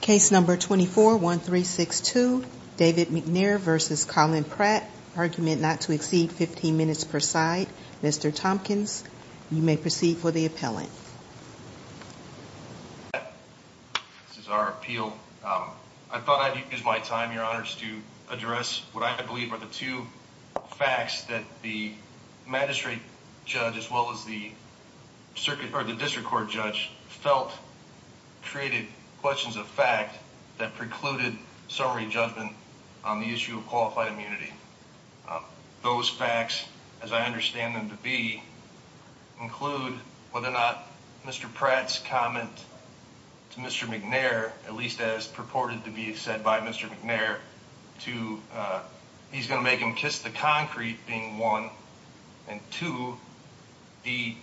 case number 24 1 3 6 2 David McNair versus Collin Pratt argument not to exceed 15 minutes per side mr. Tompkins you may proceed for the appellant this is our appeal I thought I'd use my time your honors to address what I believe are the two facts that the magistrate judge as well as the circuit or the court judge felt created questions of fact that precluded summary judgment on the issue of qualified immunity those facts as I understand them to be include whether or not mr. Pratt's comment to mr. McNair at least as purported to be said by mr. McNair to he's going to make him kiss the concrete being one and two the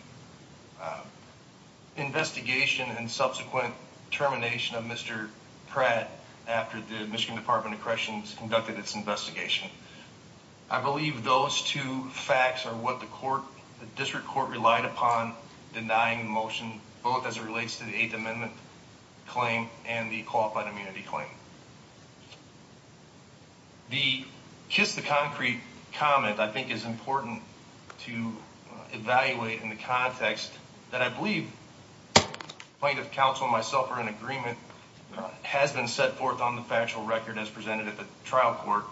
investigation and subsequent termination of mr. Pratt after the Michigan Department of Corrections conducted its investigation I believe those two facts are what the court the district court relied upon denying motion both as it relates to the Eighth Amendment claim and the qualified evaluate in the context that I believe plaintiff counsel myself or an agreement has been set forth on the factual record as presented at the trial court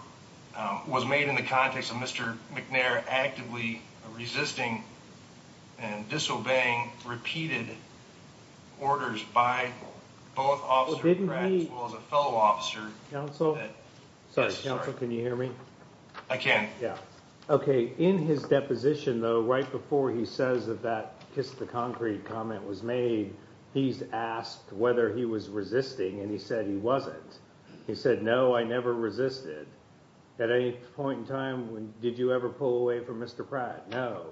was made in the context of mr. McNair actively resisting and disobeying repeated orders by fellow officer counsel sorry counsel can you hear me I can yeah okay in his deposition though right before he says that that kiss the concrete comment was made he's asked whether he was resisting and he said he wasn't he said no I never resisted at any point in time when did you ever pull away from mr. Pratt no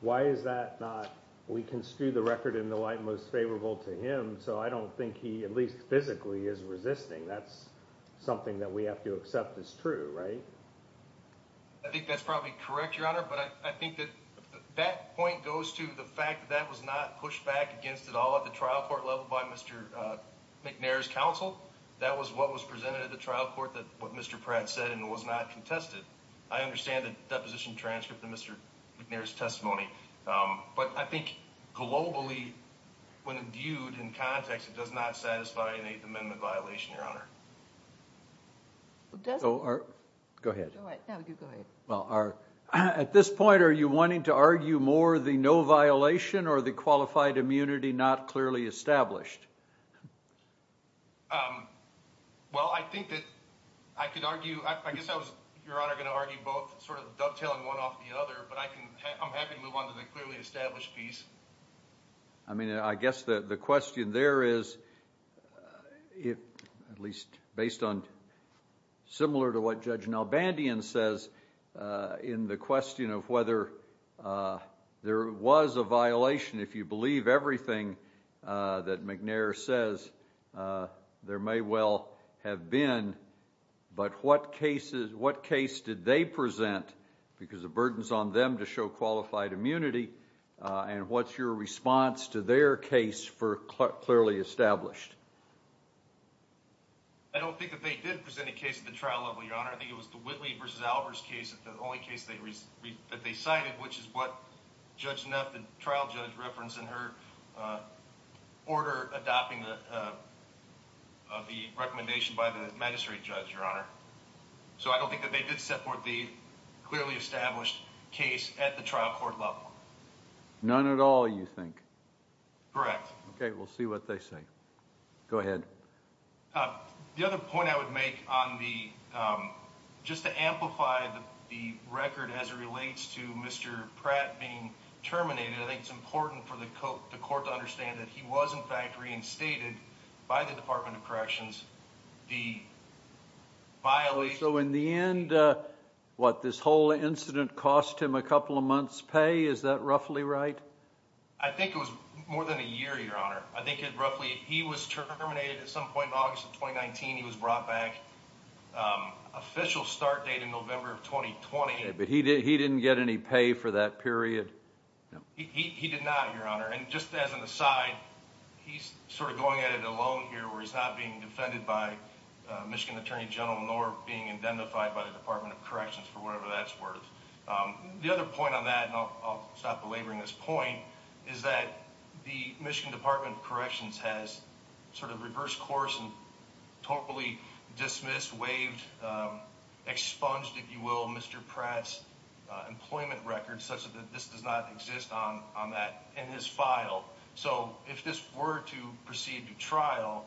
why is that not we can screw the record in the light most favorable to him so I don't think he at least physically is resisting that's something that we have to accept is true right I think that's probably correct your honor but I think that that point goes to the fact that was not pushed back against it all at the trial court level by mr. McNair's counsel that was what was presented at the trial court that what mr. Pratt said and was not contested I understand the deposition transcript of mr. McNair's testimony but I think globally when viewed in context it does not satisfy an 8th Amendment violation your honor so our go ahead well our at this point are you wanting to argue more the no violation or the qualified immunity not clearly established well I think that I could argue I guess I was your honor gonna argue both sort of dovetailing one I mean I guess that the question there is it at least based on similar to what judge now Bandian says in the question of whether there was a violation if you believe everything that McNair says there may well have been but what cases what case did they present because the burdens on them to show qualified immunity and what's your response to their case for clearly established I don't think that they did present a case at the trial level your honor I think it was the Whitley versus Albers case at the only case they read that they cited which is what judge enough the trial judge reference in her order adopting the recommendation by the magistrate judge your honor so I don't think that they did support the clearly established case at the trial court level none at all you think correct okay we'll see what they say go ahead the other point I would make on the just to amplify the record as it relates to mr. Pratt being terminated I think it's important for the coat the court to understand that he was in fact reinstated by the Department of Corrections the violence so in the end what this whole incident cost him a couple of months pay is that roughly right I think it was more than a year your honor I think it roughly he was terminated at some point in August of 2019 he was brought back official start date in November of 2020 but he did he didn't get any pay for that period he did not your honor and just as an aside he's sort of going at it alone here where he's not being defended by Michigan Attorney General nor being identified by the Department of Corrections for whatever that's worth the other point on that and I'll stop belaboring this point is that the Michigan Department of Corrections has sort of reversed course and totally dismissed waived expunged if you will mr. Pratt's employment records such as this does not exist on on that in his file so if this were to proceed to trial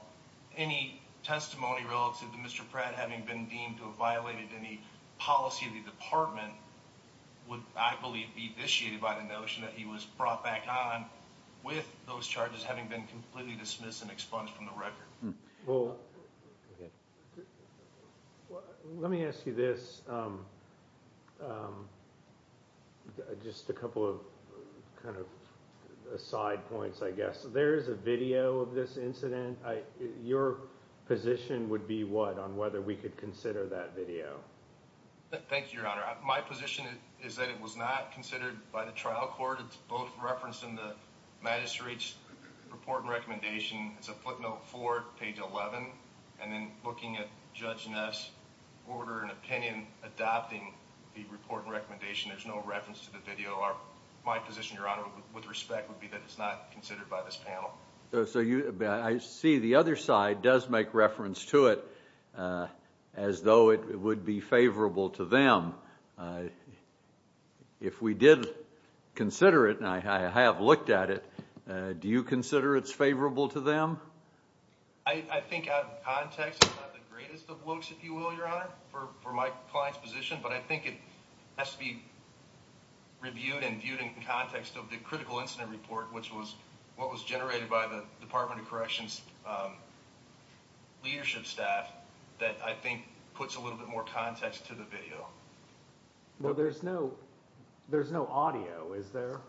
any testimony relative to mr. Pratt having been deemed to have violated any policy of the department would I believe be initiated by the notion that he was brought back on with those charges having been completely dismissed and well let me ask you this just a couple of kind of side points I guess there is a video of this incident I your position would be what on whether we could consider that video thank you your honor my position is that it was not considered by the trial court it's both referenced in the magistrate's report recommendation it's a footnote for page 11 and then looking at judge Ness order and opinion adopting the report recommendation there's no reference to the video are my position your honor with respect would be that it's not considered by this panel so you see the other side does make reference to it as though it would be favorable to them if we did consider it and I have looked at it do you consider it's favorable to them I think for my position but I think it has to be reviewed and viewed in context of the critical incident report which was what was generated by the Department of Corrections leadership staff that I think puts a little bit more context to the video well there's no there's no audio is there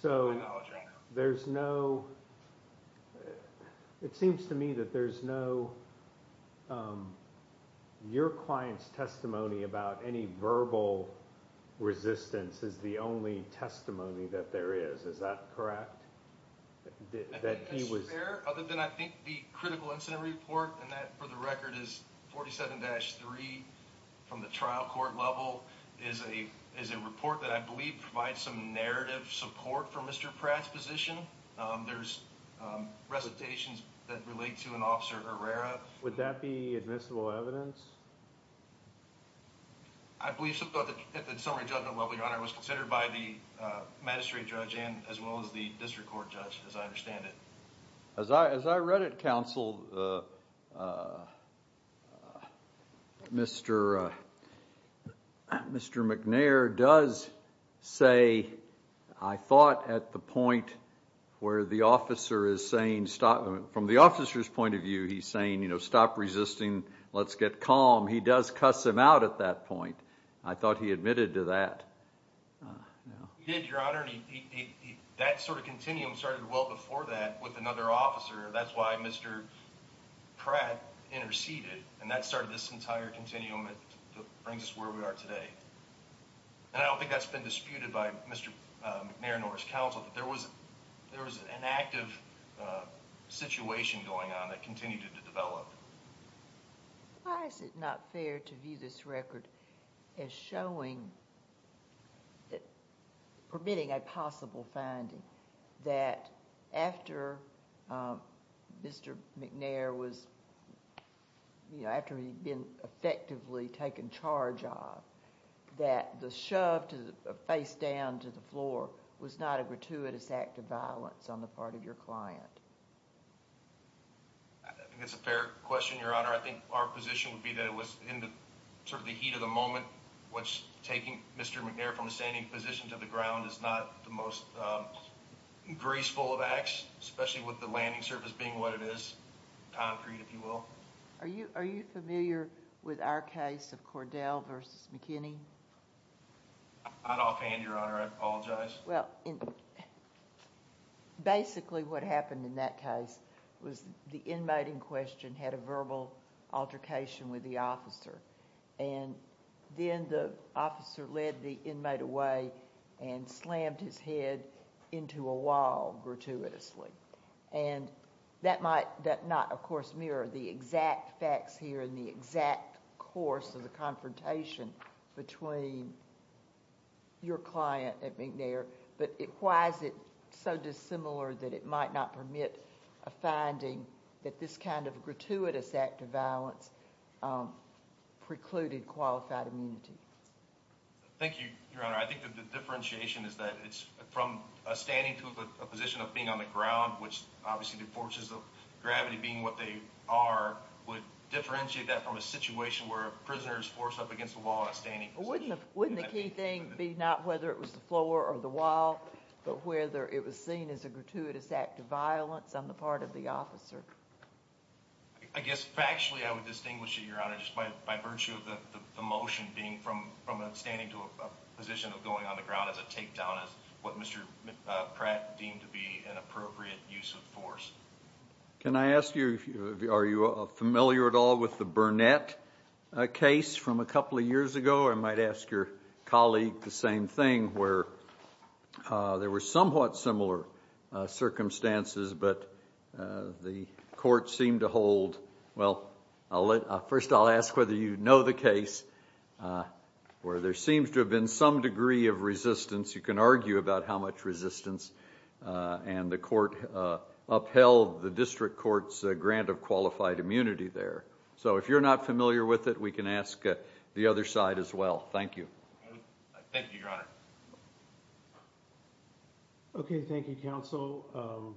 so there's no it seems to me that there's no your clients testimony about any verbal resistance is the only testimony that there is is that correct that he was there other than I think the critical is a is a report that I believe provides some narrative support for mr. Pratt's position there's recitations that relate to an officer Herrera would that be admissible evidence I believe so but the summary judgment level your honor was considered by the magistrate judge and as well as the district court judge as I as I read it counsel mr. mr. McNair does say I thought at the point where the officer is saying stop from the officer's point of view he's saying you know stop resisting let's get calm he does cuss him out at that point I thought he admitted to that did your honor that sort of continuum started well before that with another officer that's why mr. Pratt interceded and that started this entire continuum it brings us where we are today and I don't think that's been disputed by mr. McNair Norris counsel there was there was an active situation going on that continued to develop is it not fair to view this record is showing that permitting a possible finding that after mr. McNair was you know after he'd been effectively taken charge of that the shove to face down to the floor was not a gratuitous act of violence on the part of your client it's a fair question your honor I think our position would be that it was in the sort of the heat of the moment what's taking mr. McNair from the standing position to the ground is not the most graceful of acts especially with the landing surface being what it is concrete if you will are you are you familiar with our case of Cordell versus McKinney I'd offhand your honor I apologize well basically what happened in that case was the inmate in question had a verbal altercation with the officer and then the officer led the inmate away and slammed his head into a wall gratuitously and that might that not of course mirror the exact facts here in the exact course of the confrontation between your client at McNair but it why is it so dissimilar that it might not permit a finding that this kind of gratuitous act of violence precluded qualified immunity thank you your honor I think that the differentiation is that it's from a standing to a position of being on the ground which obviously the forces of gravity being what they are would differentiate that from a situation where prisoners force up against the wall a standing wouldn't wouldn't the key thing be not whether it was the floor or the wall but whether it was seen as a gratuitous act of violence on the part of the officer I guess factually I would distinguish it your honor just by virtue of the motion being from from a standing to a position of going on the ground as a takedown as what mr. Pratt deemed to be an appropriate use of force can I ask you if you are you a familiar at all with the Burnett a case from a couple of years ago I might ask your colleague the same thing where there were somewhat similar circumstances but the court seemed to hold well I'll let first I'll ask whether you know the case where there seems to have been some degree of resistance you can argue about how much resistance and the court upheld the district courts grant of qualified immunity there so if you're not familiar with it we can ask the other side as well thank you thank you okay thank you counsel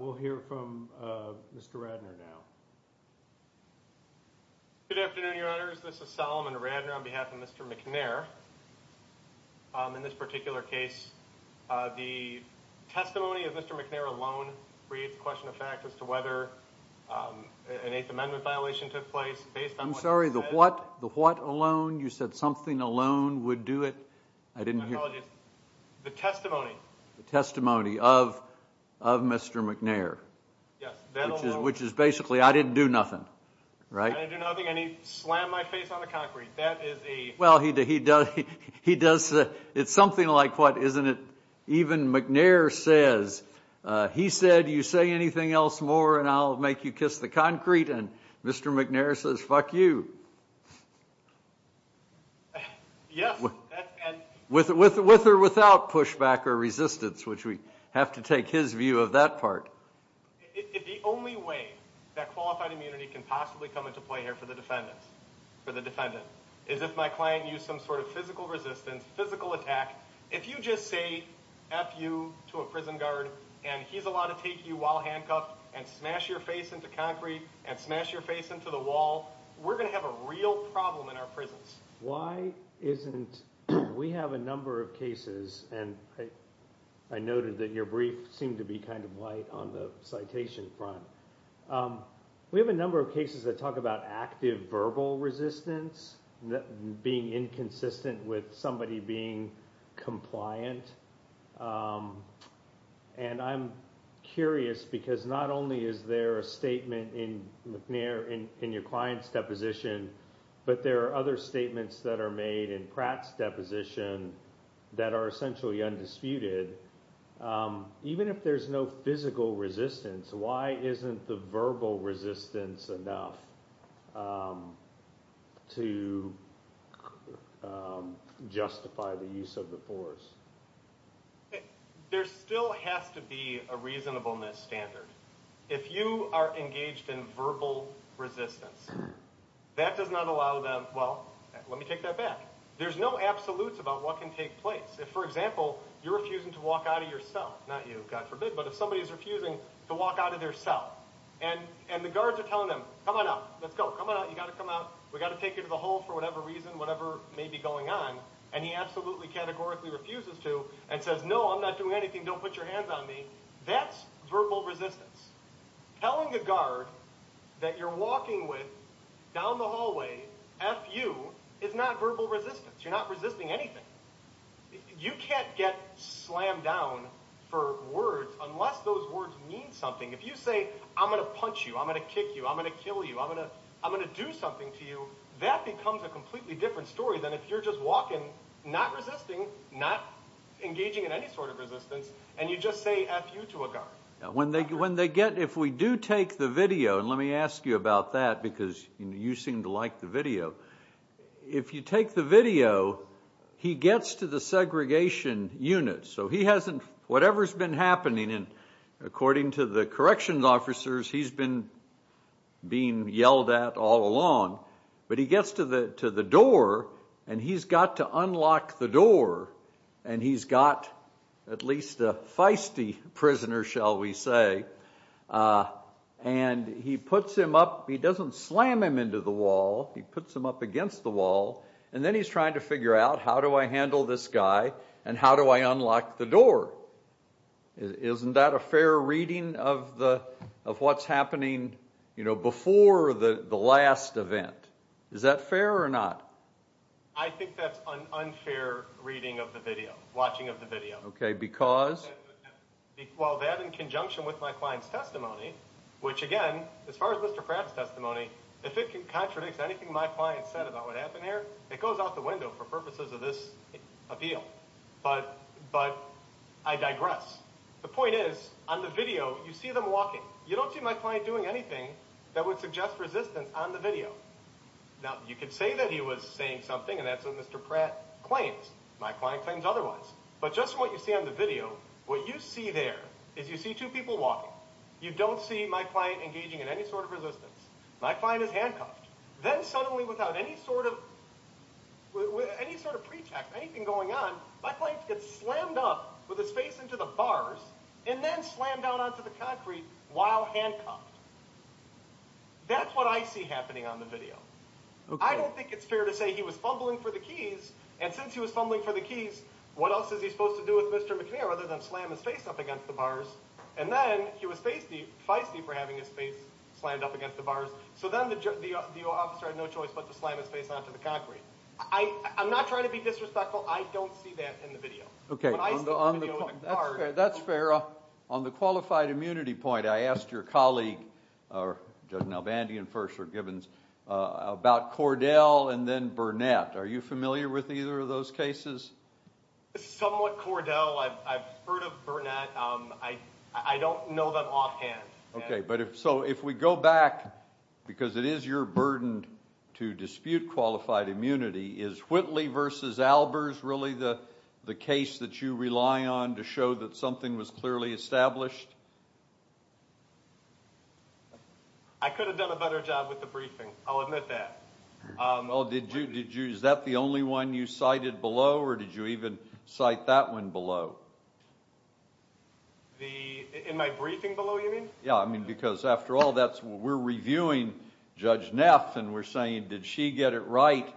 we'll hear from mr. Radner now good afternoon your honors this is Solomon Radner on behalf of mr. McNair in this particular case the testimony of Mr. McNair alone creates a question of fact as to whether an 8th Amendment violation took place based on sorry the what the what alone you said something alone would do it I didn't hear the testimony the testimony of of mr. McNair which is basically I didn't do nothing right well he did he does he does it's something like what isn't it even McNair says he said you say anything else more and I'll make you kiss the concrete and mr. McNair says fuck you with it with or without pushback or resistance which we have to take his view of that part if the only way that qualified immunity can possibly come into play here for the defendants for the defendant is if my client used some sort of physical resistance physical attack if you just say F you to a prison guard and he's allowed to take you while handcuffed and smash your face into concrete and smash your face into the wall we're gonna have a real problem in our prisons why isn't we have a number of cases and I noted that your brief seemed to be kind of light on the citation front we have a cases that talk about active verbal resistance being inconsistent with somebody being compliant and I'm curious because not only is there a statement in McNair in your clients deposition but there are other statements that are made in Pratt's deposition that are essentially undisputed even if there's no physical resistance why isn't the verbal resistance enough to justify the use of the force there still has to be a reasonableness standard if you are engaged in verbal resistance that does not allow them well let me take that back there's no absolutes about what can take place if for example you're refusing to walk out of your cell not you God forbid but if somebody is refusing to walk out of their cell and and the guards are telling them come on up let's go come on you got to come out we got to take you to the hole for whatever reason whatever may be going on and he absolutely categorically refuses to and says no I'm not doing anything don't put your hands on me that's verbal resistance telling the guard that you're walking with down the hallway F you is not verbal resistance you're not resisting anything you can't get slammed down for words unless those words mean something if you say I'm gonna punch you I'm gonna kick you I'm gonna kill you I'm gonna I'm gonna do something to you that becomes a completely different story than if you're just walking not resisting not engaging in any sort of resistance and you just say F you to a guard when they when they get if we do take the video and let me ask you about that because you seem to like the video if you take the video he gets to the segregation unit so he hasn't whatever's been happening and according to the corrections officers he's been being yelled at all along but he gets to the to the door and he's got to unlock the door and he's got at least a feisty prisoner shall we say and he puts him up he doesn't slam him into the wall he puts him up against the wall and then he's trying to figure out how do I handle this guy and how do I unlock the door isn't that a fair reading of the of what's happening you know before the the last event is that fair or not I think that's an unfair reading of the video watching of the video okay because well that in conjunction with my client's testimony which again as far as mr. Pratt's testimony if it can contradict anything my client said about what happened here it goes out the window for purposes of this appeal but but I digress the point is on the video you see them walking you don't see my client doing anything that would suggest resistance on the video now you could say that he was saying something and that's what mr. Pratt claims my client claims otherwise but just what you see on the video what you see there is you see two people walking you don't see my client engaging in any sort of resistance my client is handcuffed then suddenly without any sort of with any sort of pretext anything going on my client gets slammed up with his face into the bars and then slammed down onto the concrete while handcuffed that's what I see happening on the video I don't think it's fair to say he was fumbling for the keys and since he was fumbling for the keys what else is he supposed to do with mr. McNair other than slam his face up against the bars and then he was faced the feisty for having his face slammed up against the bars so then the judge the officer had no choice but to slam his face onto the concrete I I'm not trying to be disrespectful I don't see that in the video okay that's fair on the qualified immunity point I asked your colleague or judge now Bandy and first or Givens about Cordell and then Burnett are you familiar with either of those cases somewhat Cordell I've heard of Burnett I I don't know that offhand okay but if so if we go back because it is your burden to dispute qualified immunity is Whitley versus Albers really the the case that you rely on to show that something was clearly established I could have done a better job with the briefing I'll admit that oh did you did you is that the only one you cited below or did you even cite that one below the in my briefing below you mean yeah I mean because after all that's what we're reviewing judge Neff and we're saying did she get it right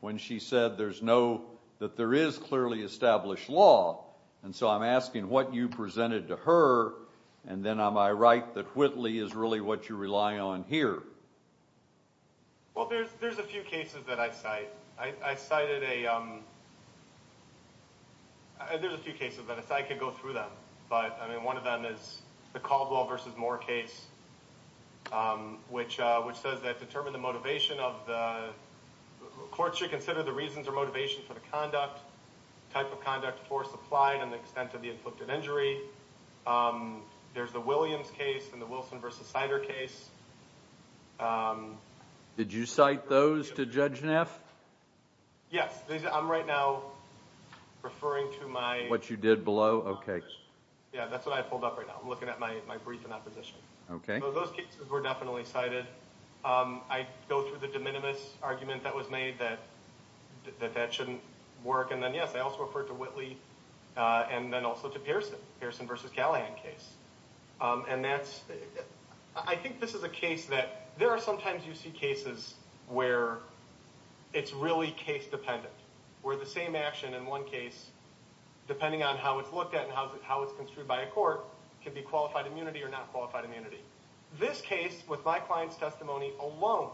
when she said there's no that there is clearly established law and so I'm asking what you presented to her and then am I right that Whitley is really what you rely on here well there's there's a few cases that I cite I cited a there's a few cases that if I could go through them but I mean one of them is the Caldwell versus Moore case which which says that determine the motivation of the courts should consider the reasons or conduct type of conduct force applied and the extent of the inflicted injury there's the Williams case in the Wilson versus cider case did you cite those to judge Neff yes I'm right now referring to my what you did below okay yeah that's what I pulled up right now I'm looking at my brief in opposition okay those cases were definitely cited I go through the de minimis argument that was made that that that shouldn't work and then yes I also referred to Whitley and then also to Pearson Pearson versus Callahan case and that's I think this is a case that there are sometimes you see cases where it's really case dependent where the same action in one case depending on how it's looked at and how it's how it's construed by a court can be qualified immunity or not qualified immunity this case with my clients testimony alone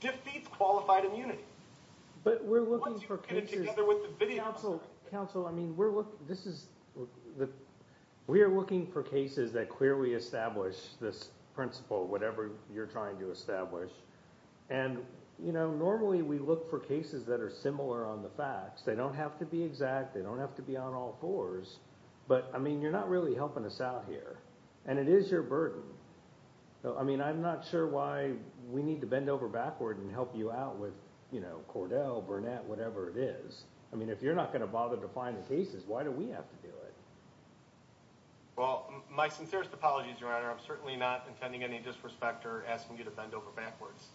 defeats qualified immunity but we're looking for council I mean we're looking this is the we are looking for cases that clearly establish this principle whatever you're trying to establish and you know normally we look for cases that are similar on the facts they don't have to be exact they don't have to be on all fours but I mean you're not really helping us out here and it is your burden so I mean I'm not sure why we need to bend over backward and help you out with you know Cordell Burnett whatever it is I mean if you're not gonna bother to find the cases why do we have to do it well my sincerest apologies your honor I'm certainly not intending any disrespect or asking you to bend over backwards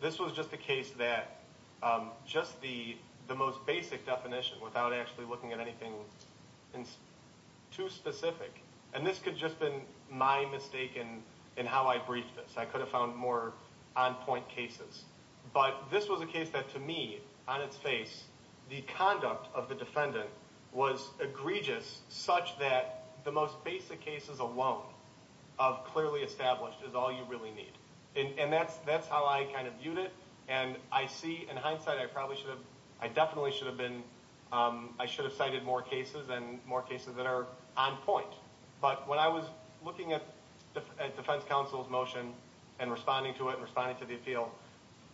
this was just a case that just the the most basic definition without actually looking at too specific and this could just been my mistake in in how I briefed this I could have found more on point cases but this was a case that to me on its face the conduct of the defendant was egregious such that the most basic cases alone of clearly established is all you really need and that's that's how I kind of viewed it and I see in hindsight I probably should have I definitely should have been I should have cited more cases and more cases that are on point but when I was looking at the defense counsel's motion and responding to it responding to the appeal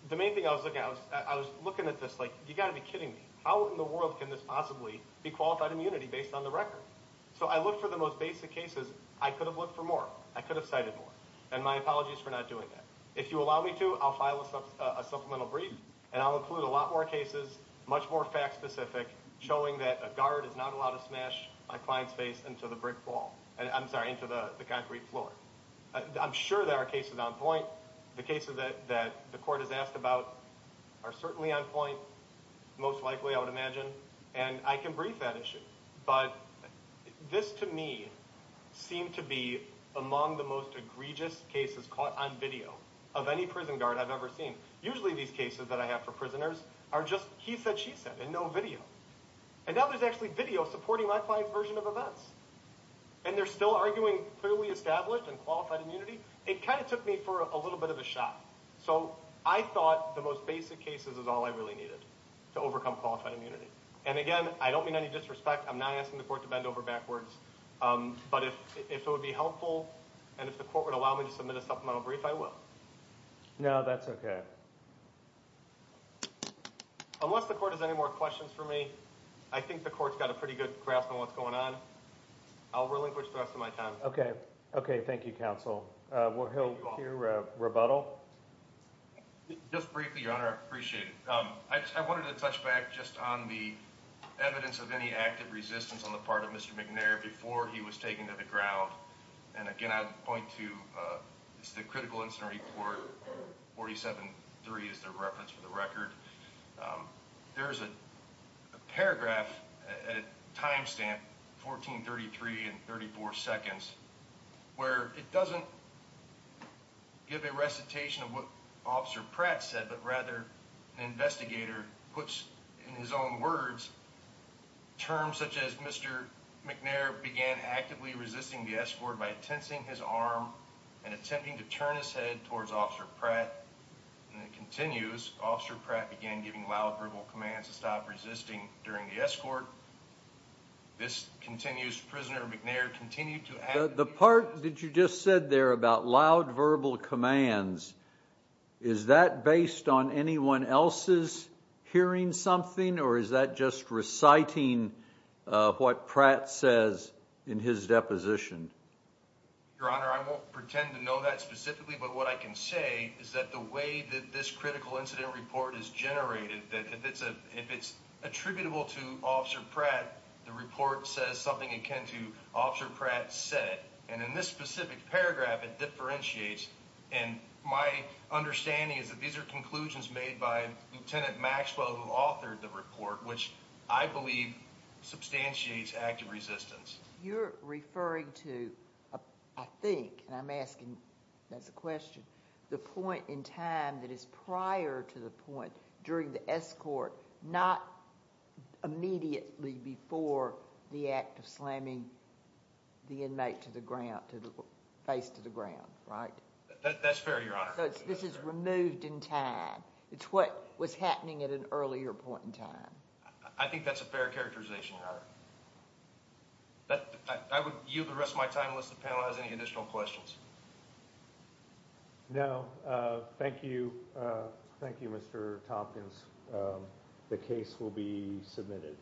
the main thing I was looking I was looking at this like you got to be kidding me how in the world can this possibly be qualified immunity based on the record so I look for the most basic cases I could have looked for more I could have cited more and my apologies for not doing that if you allow me to I'll file a supplemental brief and I'll include a lot more cases much more fact-specific showing that a guard is not allowed to smash my client's face into the brick wall and I'm sorry into the concrete floor I'm sure there are cases on point the cases that that the court has asked about are certainly on point most likely I would imagine and I can brief that issue but this to me seemed to be among the most egregious cases caught on video of any prison guard I've ever seen usually these cases that I have for prisoners are just he said she said and no video and now there's actually video supporting my client's version of events and they're still arguing clearly established and qualified immunity it kind of took me for a little bit of a shot so I thought the most basic cases is all I really needed to overcome qualified immunity and again I don't mean any disrespect I'm not asking the court to bend over backwards but if it would be helpful and if the court would allow me to submit a supplemental brief I will now that's okay unless the court has any more questions for me I think the court's got a pretty good grasp on what's going on I'll relinquish the rest of my time okay okay thank you counsel well he'll hear rebuttal just briefly your honor appreciate it I wanted to touch back just on the evidence of any active resistance on the part of mr. McNair before he was taken to the ground and again I'd point to it's the critical incident report 47 3 is the reference for the record there's a paragraph a timestamp 1433 and 34 seconds where it doesn't give a recitation of what officer Pratt said but rather an investigator puts in his own words terms such as mr. McNair began actively resisting the escort by tensing his arm and attempting to turn his head towards officer Pratt and it continues officer Pratt began giving loud verbal commands to stop resisting during the escort this continues prisoner McNair continued to the part that you just said there about loud verbal commands is that based on anyone else's hearing something or is that just reciting what Pratt says in his deposition your honor I won't pretend to know that specifically but what I can say is that the way that this critical incident report is generated that if it's a if it's attributable to officer Pratt the report says something akin to officer Pratt said and in this specific paragraph it differentiates and my understanding is that these are conclusions made by lieutenant Maxwell who authored the report which I believe substantiates active resistance you're referring to I think and I'm asking that's a question the point in time that is prior to the point during the escort not immediately before the act of slamming the inmate to the ground to the face to the ground right that's fair this is removed in time it's what was happening at an earlier point in time I think that's a fair characterization that I would yield the rest of my time unless the panel has any additional questions no thank you thank you mr. Tompkins the case will be submitted